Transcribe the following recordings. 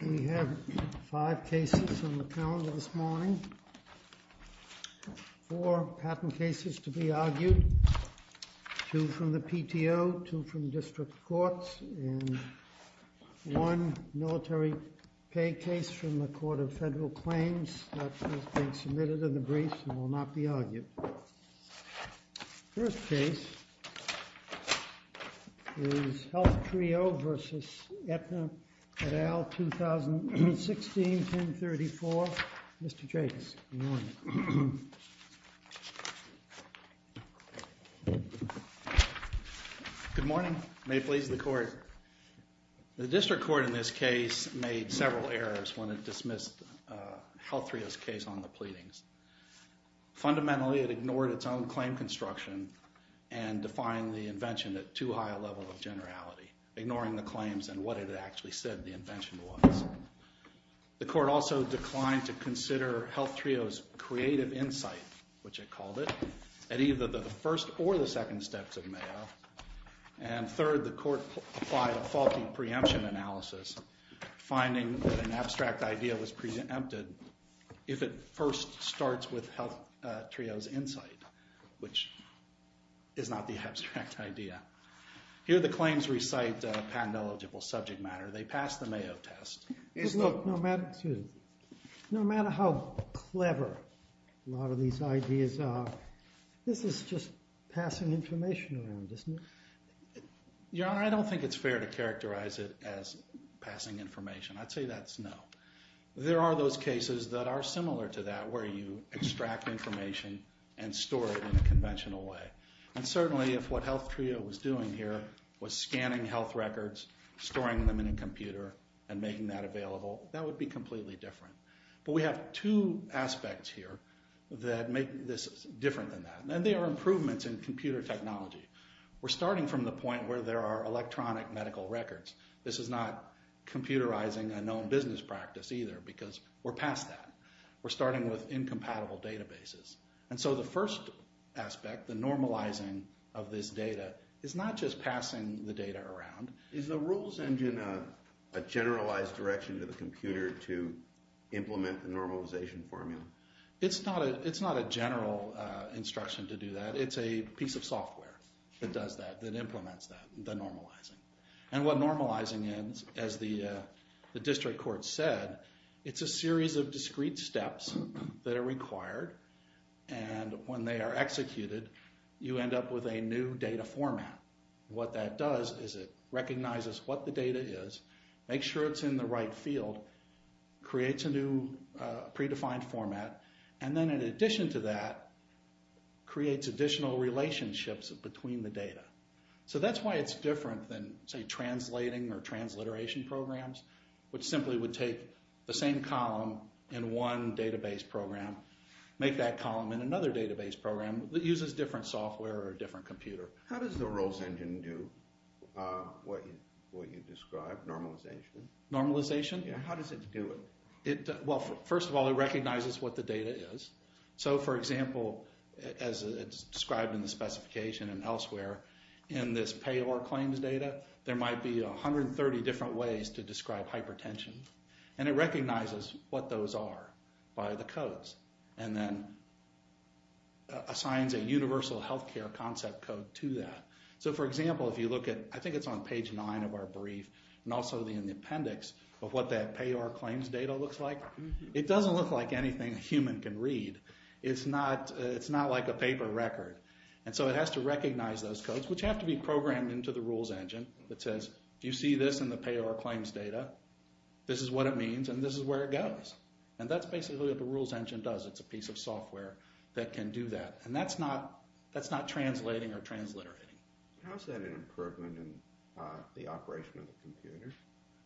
We have five cases on the calendar this morning, four patent cases to be argued, two from the PTO, two from district courts, and one military pay case from the Court of Federal Claims that has been submitted in the brief and will not be argued. The first case is HealthTrio v. Aetna et al. 2016-1034. Mr. Jacobs, good morning. Good morning. May it please the Court. The district court in this case made several errors when it dismissed HealthTrio's case on the pleadings. Fundamentally, it ignored its own claim construction and defined the invention at too high a level of generality, ignoring the claims and what it actually said the invention was. The court also declined to consider HealthTrio's creative insight, which it called it, at either the first or the second steps of Mayo. And third, the court applied a faulty preemption analysis, finding that an abstract idea was preempted if it first starts with HealthTrio's insight, which is not the abstract idea. Here the claims recite patent-eligible subject matter. They pass the Mayo test. Look, no matter how clever a lot of these ideas are, this is just passing information around, isn't it? Your Honor, I don't think it's fair to characterize it as passing information. I'd say that's no. There are those cases that are similar to that where you extract information and store it in a conventional way. And certainly if what HealthTrio was doing here was scanning health records, storing them in a computer, and making that available, that would be completely different. But we have two aspects here that make this different than that, and they are improvements in computer technology. We're starting from the point where there are electronic medical records. This is not computerizing a known business practice either, because we're past that. We're starting with incompatible databases. And so the first aspect, the normalizing of this data, is not just passing the data around. Is the rules engine a generalized direction to the computer to implement the normalization formula? It's not a general instruction to do that. It's a piece of software that does that, that implements that, the normalizing. And what normalizing is, as the district court said, it's a series of discrete steps that are required. And when they are executed, you end up with a new data format. What that does is it recognizes what the data is, makes sure it's in the right field, creates a new predefined format, and then in addition to that, creates additional relationships between the data. So that's why it's different than, say, translating or transliteration programs, which simply would take the same column in one database program, make that column in another database program that uses different software or a different computer. How does the rules engine do what you described, normalization? Normalization? Yeah, how does it do it? Well, first of all, it recognizes what the data is. So, for example, as described in the specification and elsewhere, in this payor claims data, there might be 130 different ways to describe hypertension, and it recognizes what those are by the codes and then assigns a universal healthcare concept code to that. So, for example, if you look at, I think it's on page 9 of our brief, and also in the appendix, of what that payor claims data looks like, it doesn't look like anything a human can read. It's not like a paper record. And so it has to recognize those codes, which have to be programmed into the rules engine that says, you see this in the payor claims data, this is what it means, and this is where it goes. And that's basically what the rules engine does. It's a piece of software that can do that. And that's not translating or transliterating. How is that an improvement in the operation of the computer?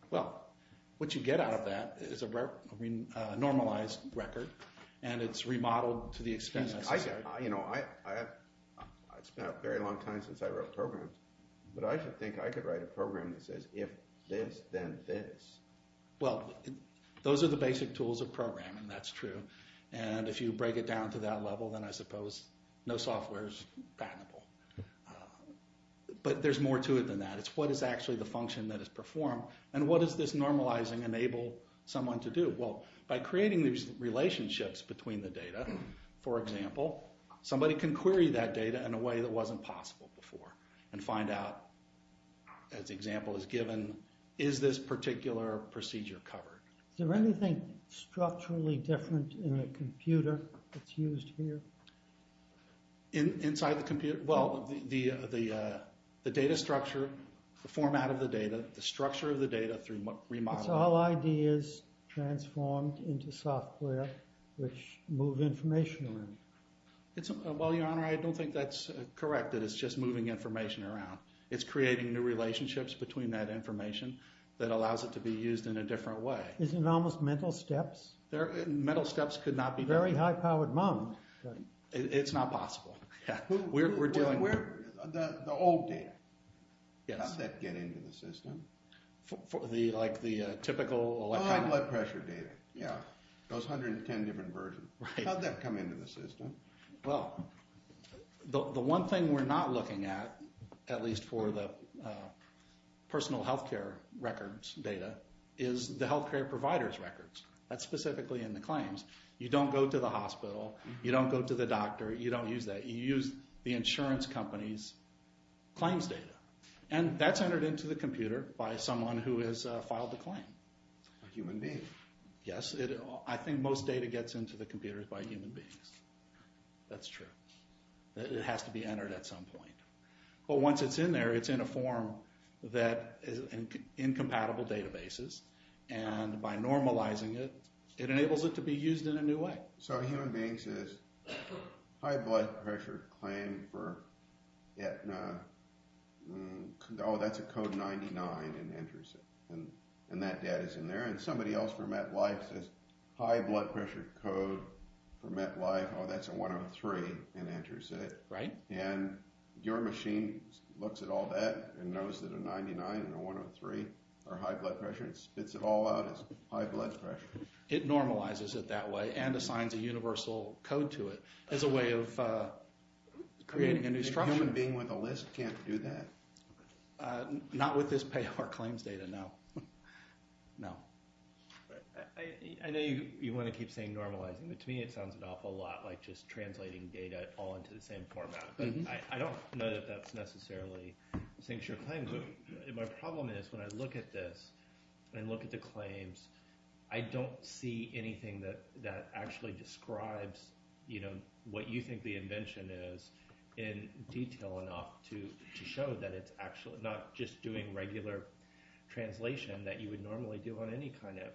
Well, what you get out of that is a normalized record, and it's remodeled to the extent necessary. I've spent a very long time since I wrote programs, but I should think I could write a program that says, if this, then this. Well, those are the basic tools of programming. That's true. And if you break it down to that level, then I suppose no software is patentable. But there's more to it than that. It's what is actually the function that is performed, and what does this normalizing enable someone to do? Well, by creating these relationships between the data, for example, somebody can query that data in a way that wasn't possible before and find out, as the example is given, is this particular procedure covered? Is there anything structurally different in a computer that's used here? Inside the computer? Well, the data structure, the format of the data, the structure of the data through remodeling. It's all ideas transformed into software which move information around. Well, Your Honor, I don't think that's correct, that it's just moving information around. It's creating new relationships between that information that allows it to be used in a different way. Isn't it almost mental steps? Mental steps could not be better. It's a very high-powered moment. It's not possible. We're dealing with it. The old data. Yes. How'd that get into the system? Like the typical electronic? Blood pressure data, yeah, those 110 different versions. Right. How'd that come into the system? Well, the one thing we're not looking at, at least for the personal health care records data, is the health care provider's records. That's specifically in the claims. You don't go to the hospital. You don't go to the doctor. You don't use that. You use the insurance company's claims data. And that's entered into the computer by someone who has filed the claim. A human being. Yes. I think most data gets into the computers by human beings. That's true. It has to be entered at some point. But once it's in there, it's in a form that is incompatible databases. And by normalizing it, it enables it to be used in a new way. So a human being says, high blood pressure claim for, oh, that's a code 99, and enters it. And that data's in there. And somebody else for MetLife says, high blood pressure code for MetLife, oh, that's a 103, and enters it. Right. And your machine looks at all that and knows that a 99 and a 103 are high blood pressure and spits it all out as high blood pressure. It normalizes it that way and assigns a universal code to it as a way of creating a new structure. A human being with a list can't do that? Not with this payor claims data, no. No. I know you want to keep saying normalizing, but to me it sounds an awful lot like just translating data all into the same format. But I don't know that that necessarily sinks your claim. My problem is when I look at this and look at the claims, I don't see anything that actually describes what you think the invention is in detail enough to show that it's actually not just doing regular translation that you would normally do on any kind of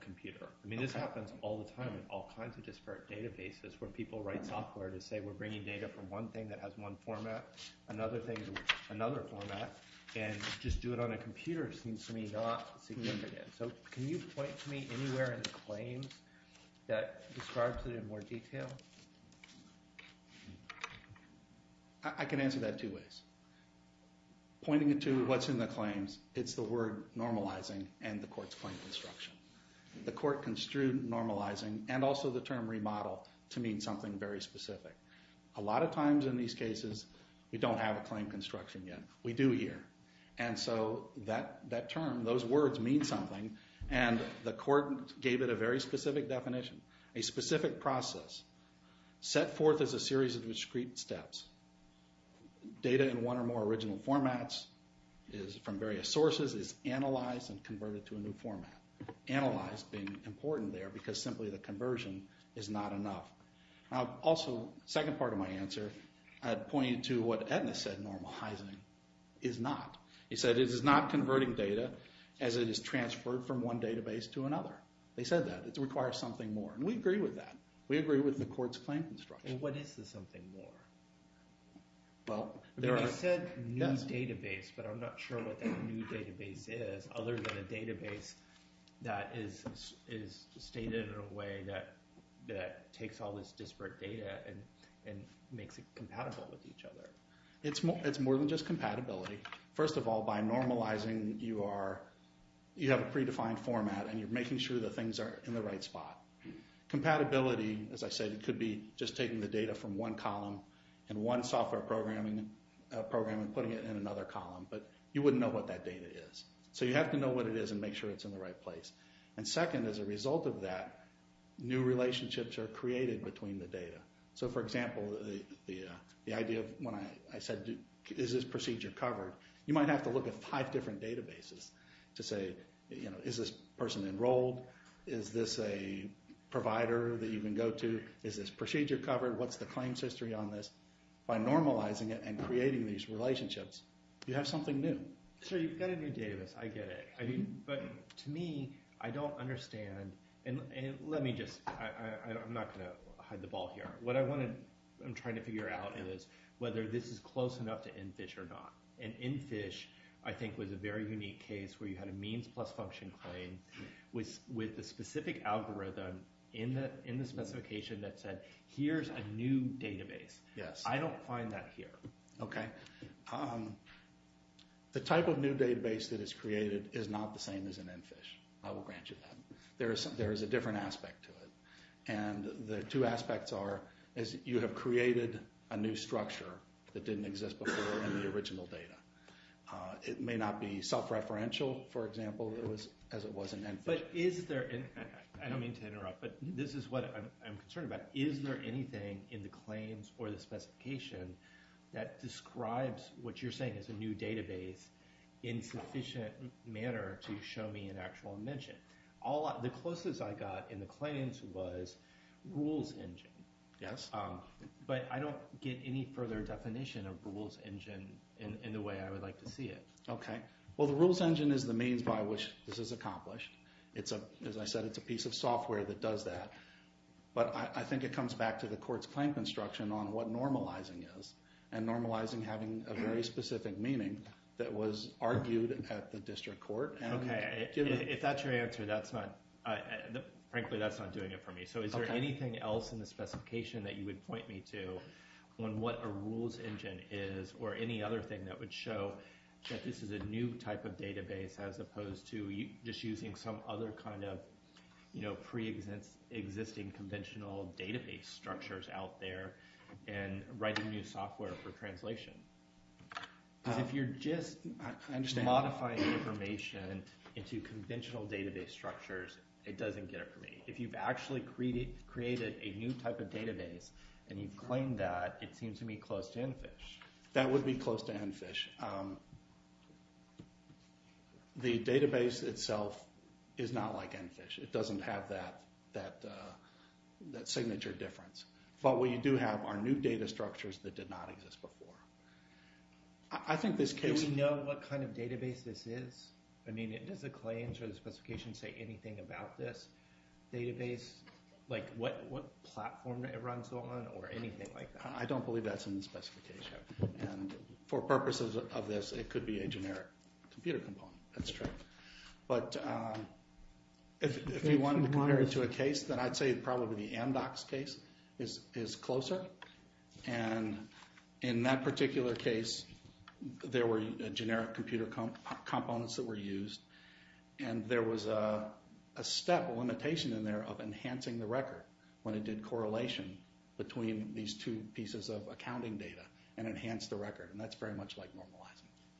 computer. I mean this happens all the time in all kinds of disparate databases where people write software to say we're bringing data from one thing that has one format, another thing with another format, and just do it on a computer seems to me not significant. So can you point to me anywhere in the claims that describes it in more detail? I can answer that two ways. Pointing it to what's in the claims, it's the word normalizing and the court's claim construction. The court construed normalizing and also the term remodel to mean something very specific. A lot of times in these cases we don't have a claim construction yet. We do here, and so that term, those words mean something, and the court gave it a very specific definition. A specific process set forth as a series of discrete steps. Data in one or more original formats from various sources is analyzed and converted to a new format. Analyzed being important there because simply the conversion is not enough. Also, second part of my answer, I'd point you to what Edna said normalizing is not. He said it is not converting data as it is transferred from one database to another. They said that. It requires something more, and we agree with that. We agree with the court's claim construction. What is the something more? They said new database, but I'm not sure what that new database is, other than a database that is stated in a way that takes all this disparate data and makes it compatible with each other. It's more than just compatibility. First of all, by normalizing you have a predefined format, and you're making sure that things are in the right spot. Compatibility, as I said, could be just taking the data from one column and one software program and putting it in another column, but you wouldn't know what that data is. So you have to know what it is and make sure it's in the right place. Second, as a result of that, new relationships are created between the data. For example, the idea of when I said is this procedure covered, you might have to look at five different databases to say is this person enrolled, is this a provider that you can go to, is this procedure covered, what's the claims history on this. By normalizing it and creating these relationships, you have something new. So you've got a new database. I get it. But to me, I don't understand. And let me just – I'm not going to hide the ball here. What I'm trying to figure out is whether this is close enough to NFISH or not. And NFISH I think was a very unique case where you had a means plus function claim with a specific algorithm in the specification that said here's a new database. I don't find that here. Okay. The type of new database that is created is not the same as an NFISH. I will grant you that. There is a different aspect to it, and the two aspects are you have created a new structure that didn't exist before in the original data. It may not be self-referential, for example, as it was in NFISH. But is there – I don't mean to interrupt, but this is what I'm concerned about. Is there anything in the claims or the specification that describes what you're saying as a new database in sufficient manner to show me an actual mention? The closest I got in the claims was Rules Engine. Yes. But I don't get any further definition of Rules Engine in the way I would like to see it. Okay. Well, the Rules Engine is the means by which this is accomplished. As I said, it's a piece of software that does that. But I think it comes back to the court's claim construction on what normalizing is and normalizing having a very specific meaning that was argued at the district court. Okay. If that's your answer, that's not – frankly, that's not doing it for me. So is there anything else in the specification that you would point me to on what a Rules Engine is or any other thing that would show that this is a new type of database as opposed to just using some other kind of pre-existing conventional database structures out there and writing new software for translation? Because if you're just modifying information into conventional database structures, it doesn't get it for me. If you've actually created a new type of database and you've claimed that, it seems to me close to ENFISH. That would be close to ENFISH. The database itself is not like ENFISH. It doesn't have that signature difference. But what you do have are new data structures that did not exist before. I think this case – Do we know what kind of database this is? I mean, does the claims or the specification say anything about this database? Like what platform it runs on or anything like that? I don't believe that's in the specification. And for purposes of this, it could be a generic computer component. That's true. But if we wanted to compare it to a case, then I'd say probably the Amdocs case is closer. And in that particular case, there were generic computer components that were used, and there was a step, a limitation in there of enhancing the record when it did correlation between these two pieces of accounting data and enhanced the record. And that's very much like normalizing.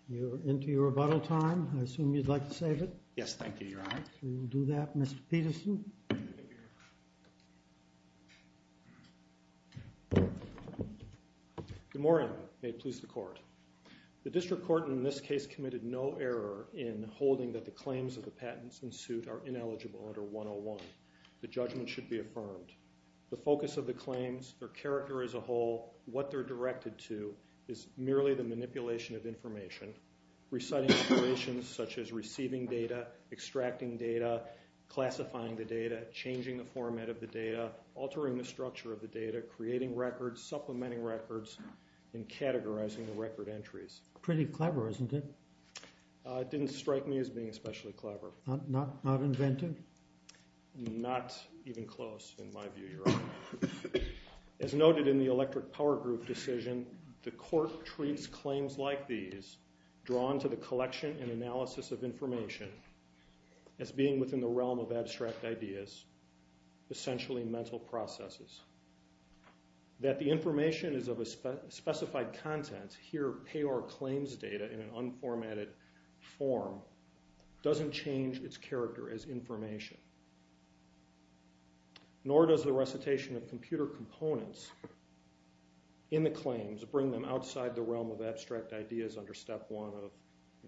We're into your rebuttal time. I assume you'd like to save it. Yes, thank you, Your Honor. We will do that. Mr. Peterson. Good morning. May it please the Court. The district court in this case committed no error in holding that the claims of the patents in suit are ineligible under 101. The judgment should be affirmed. The focus of the claims, their character as a whole, what they're directed to, is merely the manipulation of information, reciting operations such as receiving data, extracting data, classifying the data, changing the format of the data, altering the structure of the data, creating records, supplementing records, and categorizing the record entries. Pretty clever, isn't it? It didn't strike me as being especially clever. Not inventive? Not even close, in my view, Your Honor. As noted in the electric power group decision, the court treats claims like these, drawn to the collection and analysis of information, as being within the realm of abstract ideas, essentially mental processes. That the information is of a specified content, here payor claims data in an unformatted form, doesn't change its character as information. Nor does the recitation of computer components in the claims bring them outside the realm of abstract ideas under step one of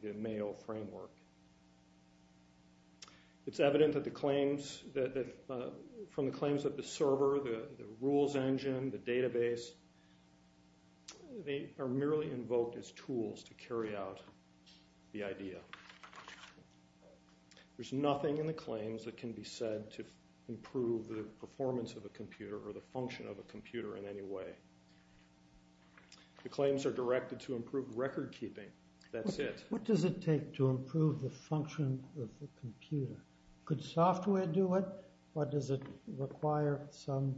the Mayo framework. It's evident from the claims that the server, the rules engine, the database, they are merely invoked as tools to carry out the idea. There's nothing in the claims that can be said to improve the performance of a computer or the function of a computer in any way. The claims are directed to improve record keeping. That's it. What does it take to improve the function of a computer? Could software do it? Or does it require some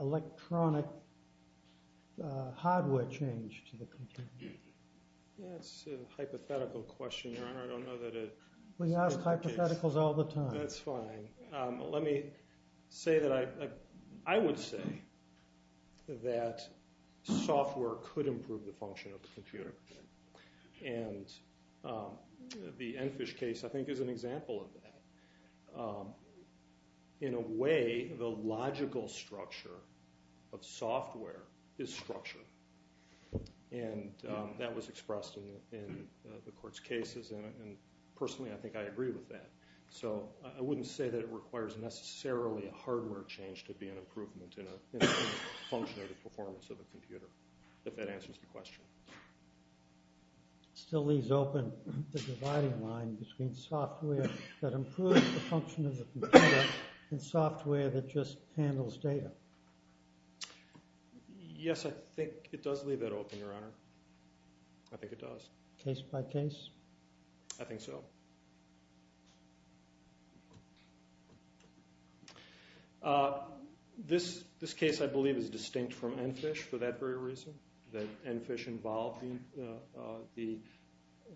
electronic hardware change to the computer? That's a hypothetical question, Your Honor. I don't know that it... We ask hypotheticals all the time. That's fine. Let me say that I would say that software could improve the function of the computer. And the Enfish case, I think, is an example of that. In a way, the logical structure of software is structure. And that was expressed in the court's cases. And personally, I think I agree with that. So I wouldn't say that it requires necessarily a hardware change to be an improvement in a function of the performance of a computer, if that answers the question. It still leaves open the dividing line between software that improves the function of the computer and software that just handles data. Yes, I think it does leave that open, Your Honor. I think it does. Case by case? I think so. This case, I believe, is distinct from Enfish for that very reason, that Enfish involved the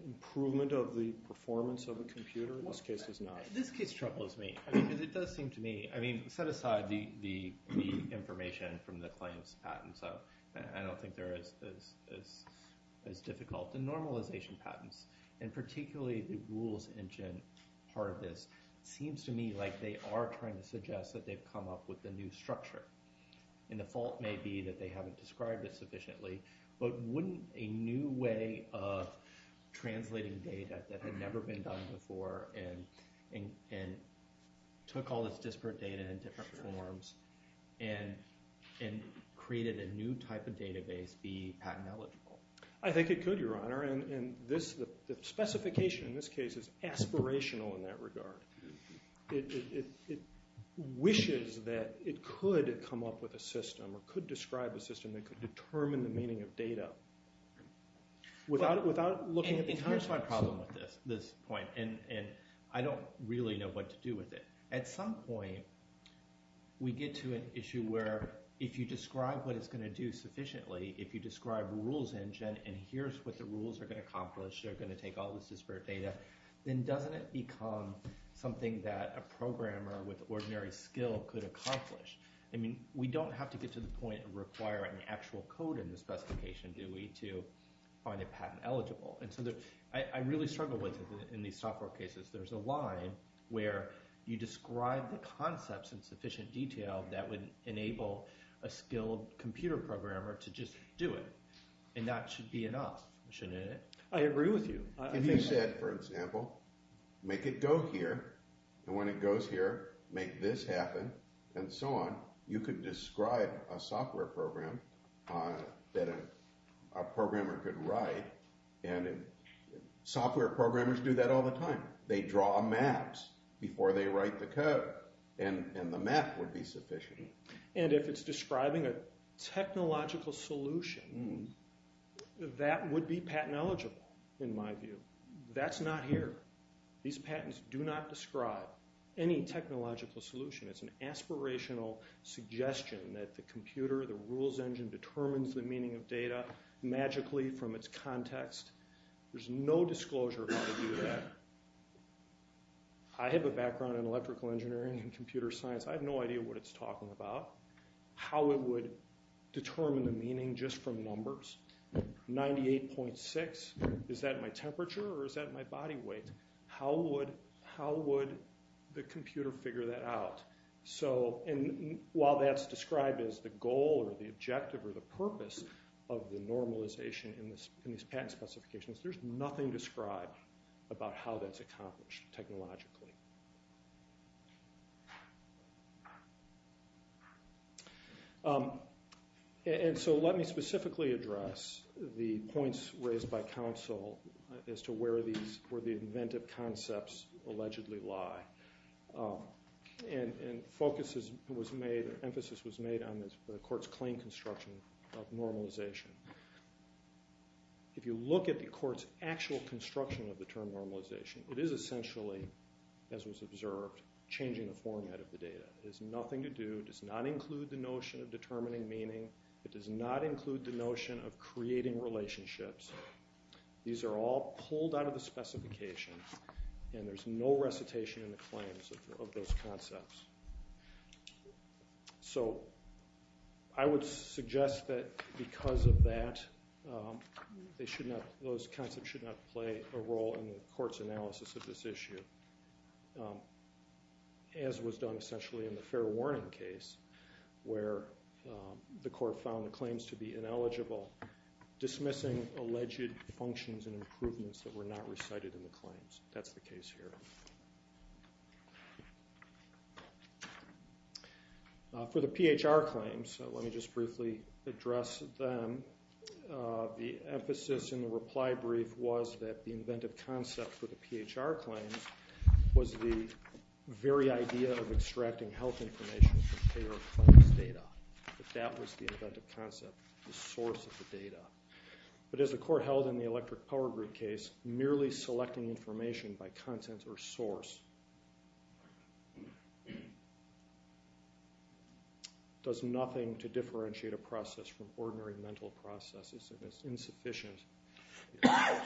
improvement of the performance of a computer. This case is not. This case troubles me. Because it does seem to me – I mean, set aside the information from the claims patent, I don't think they're as difficult. The normalization patents, and particularly the rules engine part of this, seems to me like they are trying to suggest that they've come up with a new structure. And the fault may be that they haven't described it sufficiently, but wouldn't a new way of translating data that had never been done before and took all this disparate data in different forms and created a new type of database be patent eligible? I think it could, Your Honor. And the specification in this case is aspirational in that regard. It wishes that it could come up with a system or could describe a system that could determine the meaning of data without looking at the – I mean, here's my problem with this point, and I don't really know what to do with it. At some point, we get to an issue where if you describe what it's going to do sufficiently, if you describe rules engine and here's what the rules are going to accomplish, they're going to take all this disparate data, then doesn't it become something that a programmer with ordinary skill could accomplish? I mean, we don't have to get to the point and require an actual code in the specification, do we, to find it patent eligible? And so I really struggle with it in these software cases. There's a line where you describe the concepts in sufficient detail that would enable a skilled computer programmer to just do it, and that should be enough, shouldn't it? I agree with you. If you said, for example, make it go here, and when it goes here, make this happen, and so on, you could describe a software program that a programmer could write, and software programmers do that all the time. They draw maps before they write the code, and the map would be sufficient. And if it's describing a technological solution, that would be patent eligible in my view. That's not here. These patents do not describe any technological solution. It's an aspirational suggestion that the computer, the rules engine, determines the meaning of data magically from its context. There's no disclosure about how to do that. I have a background in electrical engineering and computer science. I have no idea what it's talking about, how it would determine the meaning just from numbers. 98.6, is that my temperature or is that my body weight? How would the computer figure that out? And while that's described as the goal or the objective or the purpose of the normalization in these patent specifications, there's nothing described about how that's accomplished technologically. And so let me specifically address the points raised by counsel as to where the inventive concepts allegedly lie. And focus was made, emphasis was made on the court's claim construction of normalization. If you look at the court's actual construction of the term normalization, it is essentially, as was observed, changing the format of the data. It has nothing to do, does not include the notion of determining meaning. It does not include the notion of creating relationships. These are all pulled out of the specification, and there's no recitation in the claims of those concepts. So I would suggest that because of that, those concepts should not play a role in the court's analysis of this issue. As was done essentially in the fair warning case, where the court found the claims to be ineligible, dismissing alleged functions and improvements that were not recited in the claims. That's the case here. For the PHR claims, let me just briefly address them. The emphasis in the reply brief was that the inventive concept for the PHR claims was the very idea of extracting health information from payer-of-claims data. That was the inventive concept, the source of the data. But as the court held in the electric power grid case, merely selecting information by content or source does nothing to differentiate a process from ordinary mental processes, and it's insufficient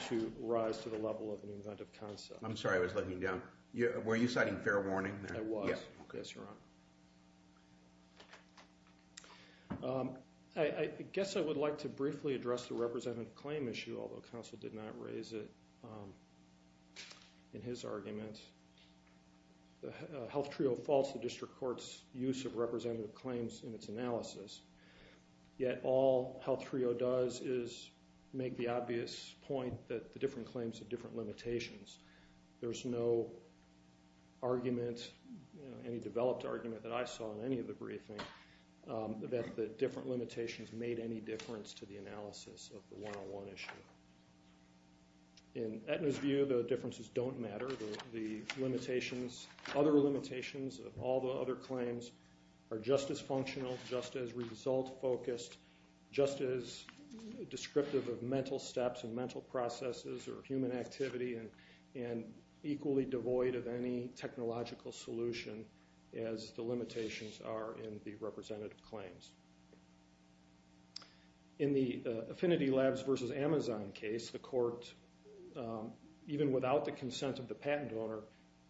to rise to the level of an inventive concept. I'm sorry, I was looking down. Were you citing fair warning there? I was. Yes, Your Honor. I guess I would like to briefly address the representative claim issue, although counsel did not raise it in his argument. The health trio faults the district court's use of representative claims in its analysis, yet all health trio does is make the obvious point that the different claims have different limitations. There's no argument, any developed argument that I saw in any of the briefings, that the different limitations made any difference to the analysis of the 101 issue. In Aetna's view, the differences don't matter. The limitations, other limitations of all the other claims are just as functional, just as result-focused, just as descriptive of mental steps and mental processes or human activity and equally devoid of any technological solution as the limitations are in the representative claims. In the Affinity Labs versus Amazon case, the court, even without the consent of the patent owner,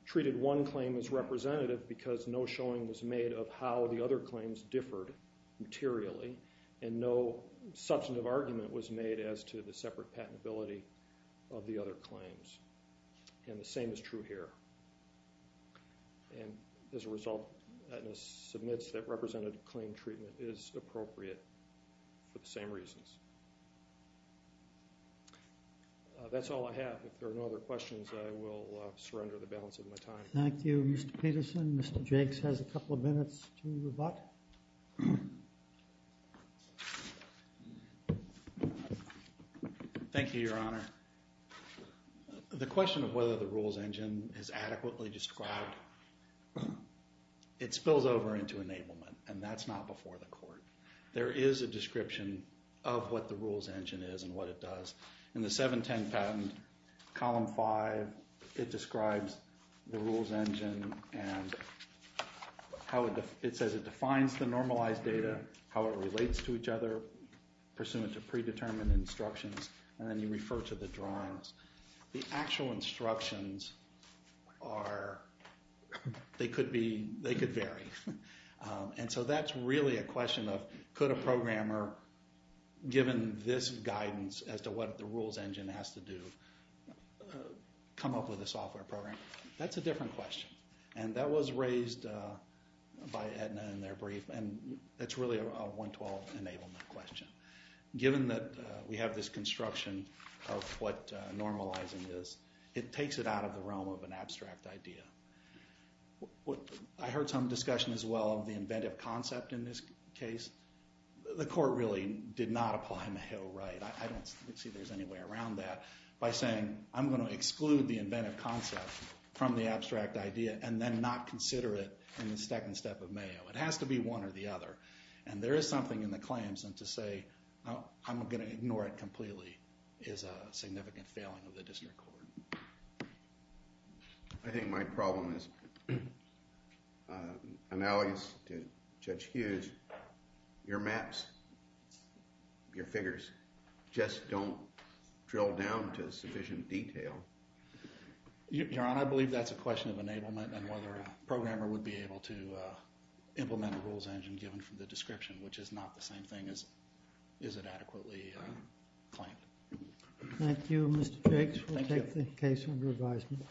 treated one claim as representative because no showing was made of how the other claims differed materially. And no substantive argument was made as to the separate patentability of the other claims. And the same is true here. And as a result, Aetna submits that representative claim treatment is appropriate for the same reasons. That's all I have. If there are no other questions, I will surrender the balance of my time. Thank you, Mr. Peterson. Mr. Jakes has a couple of minutes to rebut. Thank you, Your Honor. The question of whether the rules engine is adequately described, it spills over into enablement, and that's not before the court. There is a description of what the rules engine is and what it does. In the 710 patent, column 5, it describes the rules engine and it says it defines the normalized data, how it relates to each other, pursuant to predetermined instructions, and then you refer to the drawings. The actual instructions could vary. And so that's really a question of could a programmer, given this guidance as to what the rules engine has to do, come up with a software program? That's a different question, and that was raised by Aetna in their brief, and it's really a 112 enablement question. Given that we have this construction of what normalizing is, it takes it out of the realm of an abstract idea. I heard some discussion as well of the inventive concept in this case. The court really did not apply Mayo right. I don't see there's any way around that by saying I'm going to exclude the inventive concept from the abstract idea and then not consider it in the second step of Mayo. It has to be one or the other, and there is something in the claims, and to say I'm going to ignore it completely is a significant failing of the district court. I think my problem is analogous to Judge Hughes. Your maps, your figures, just don't drill down to sufficient detail. Your Honor, I believe that's a question of enablement and whether a programmer would be able to implement a rules engine given from the description, which is not the same thing as is it adequately claimed. Thank you, Mr. Jakes. We'll take the case under advisement.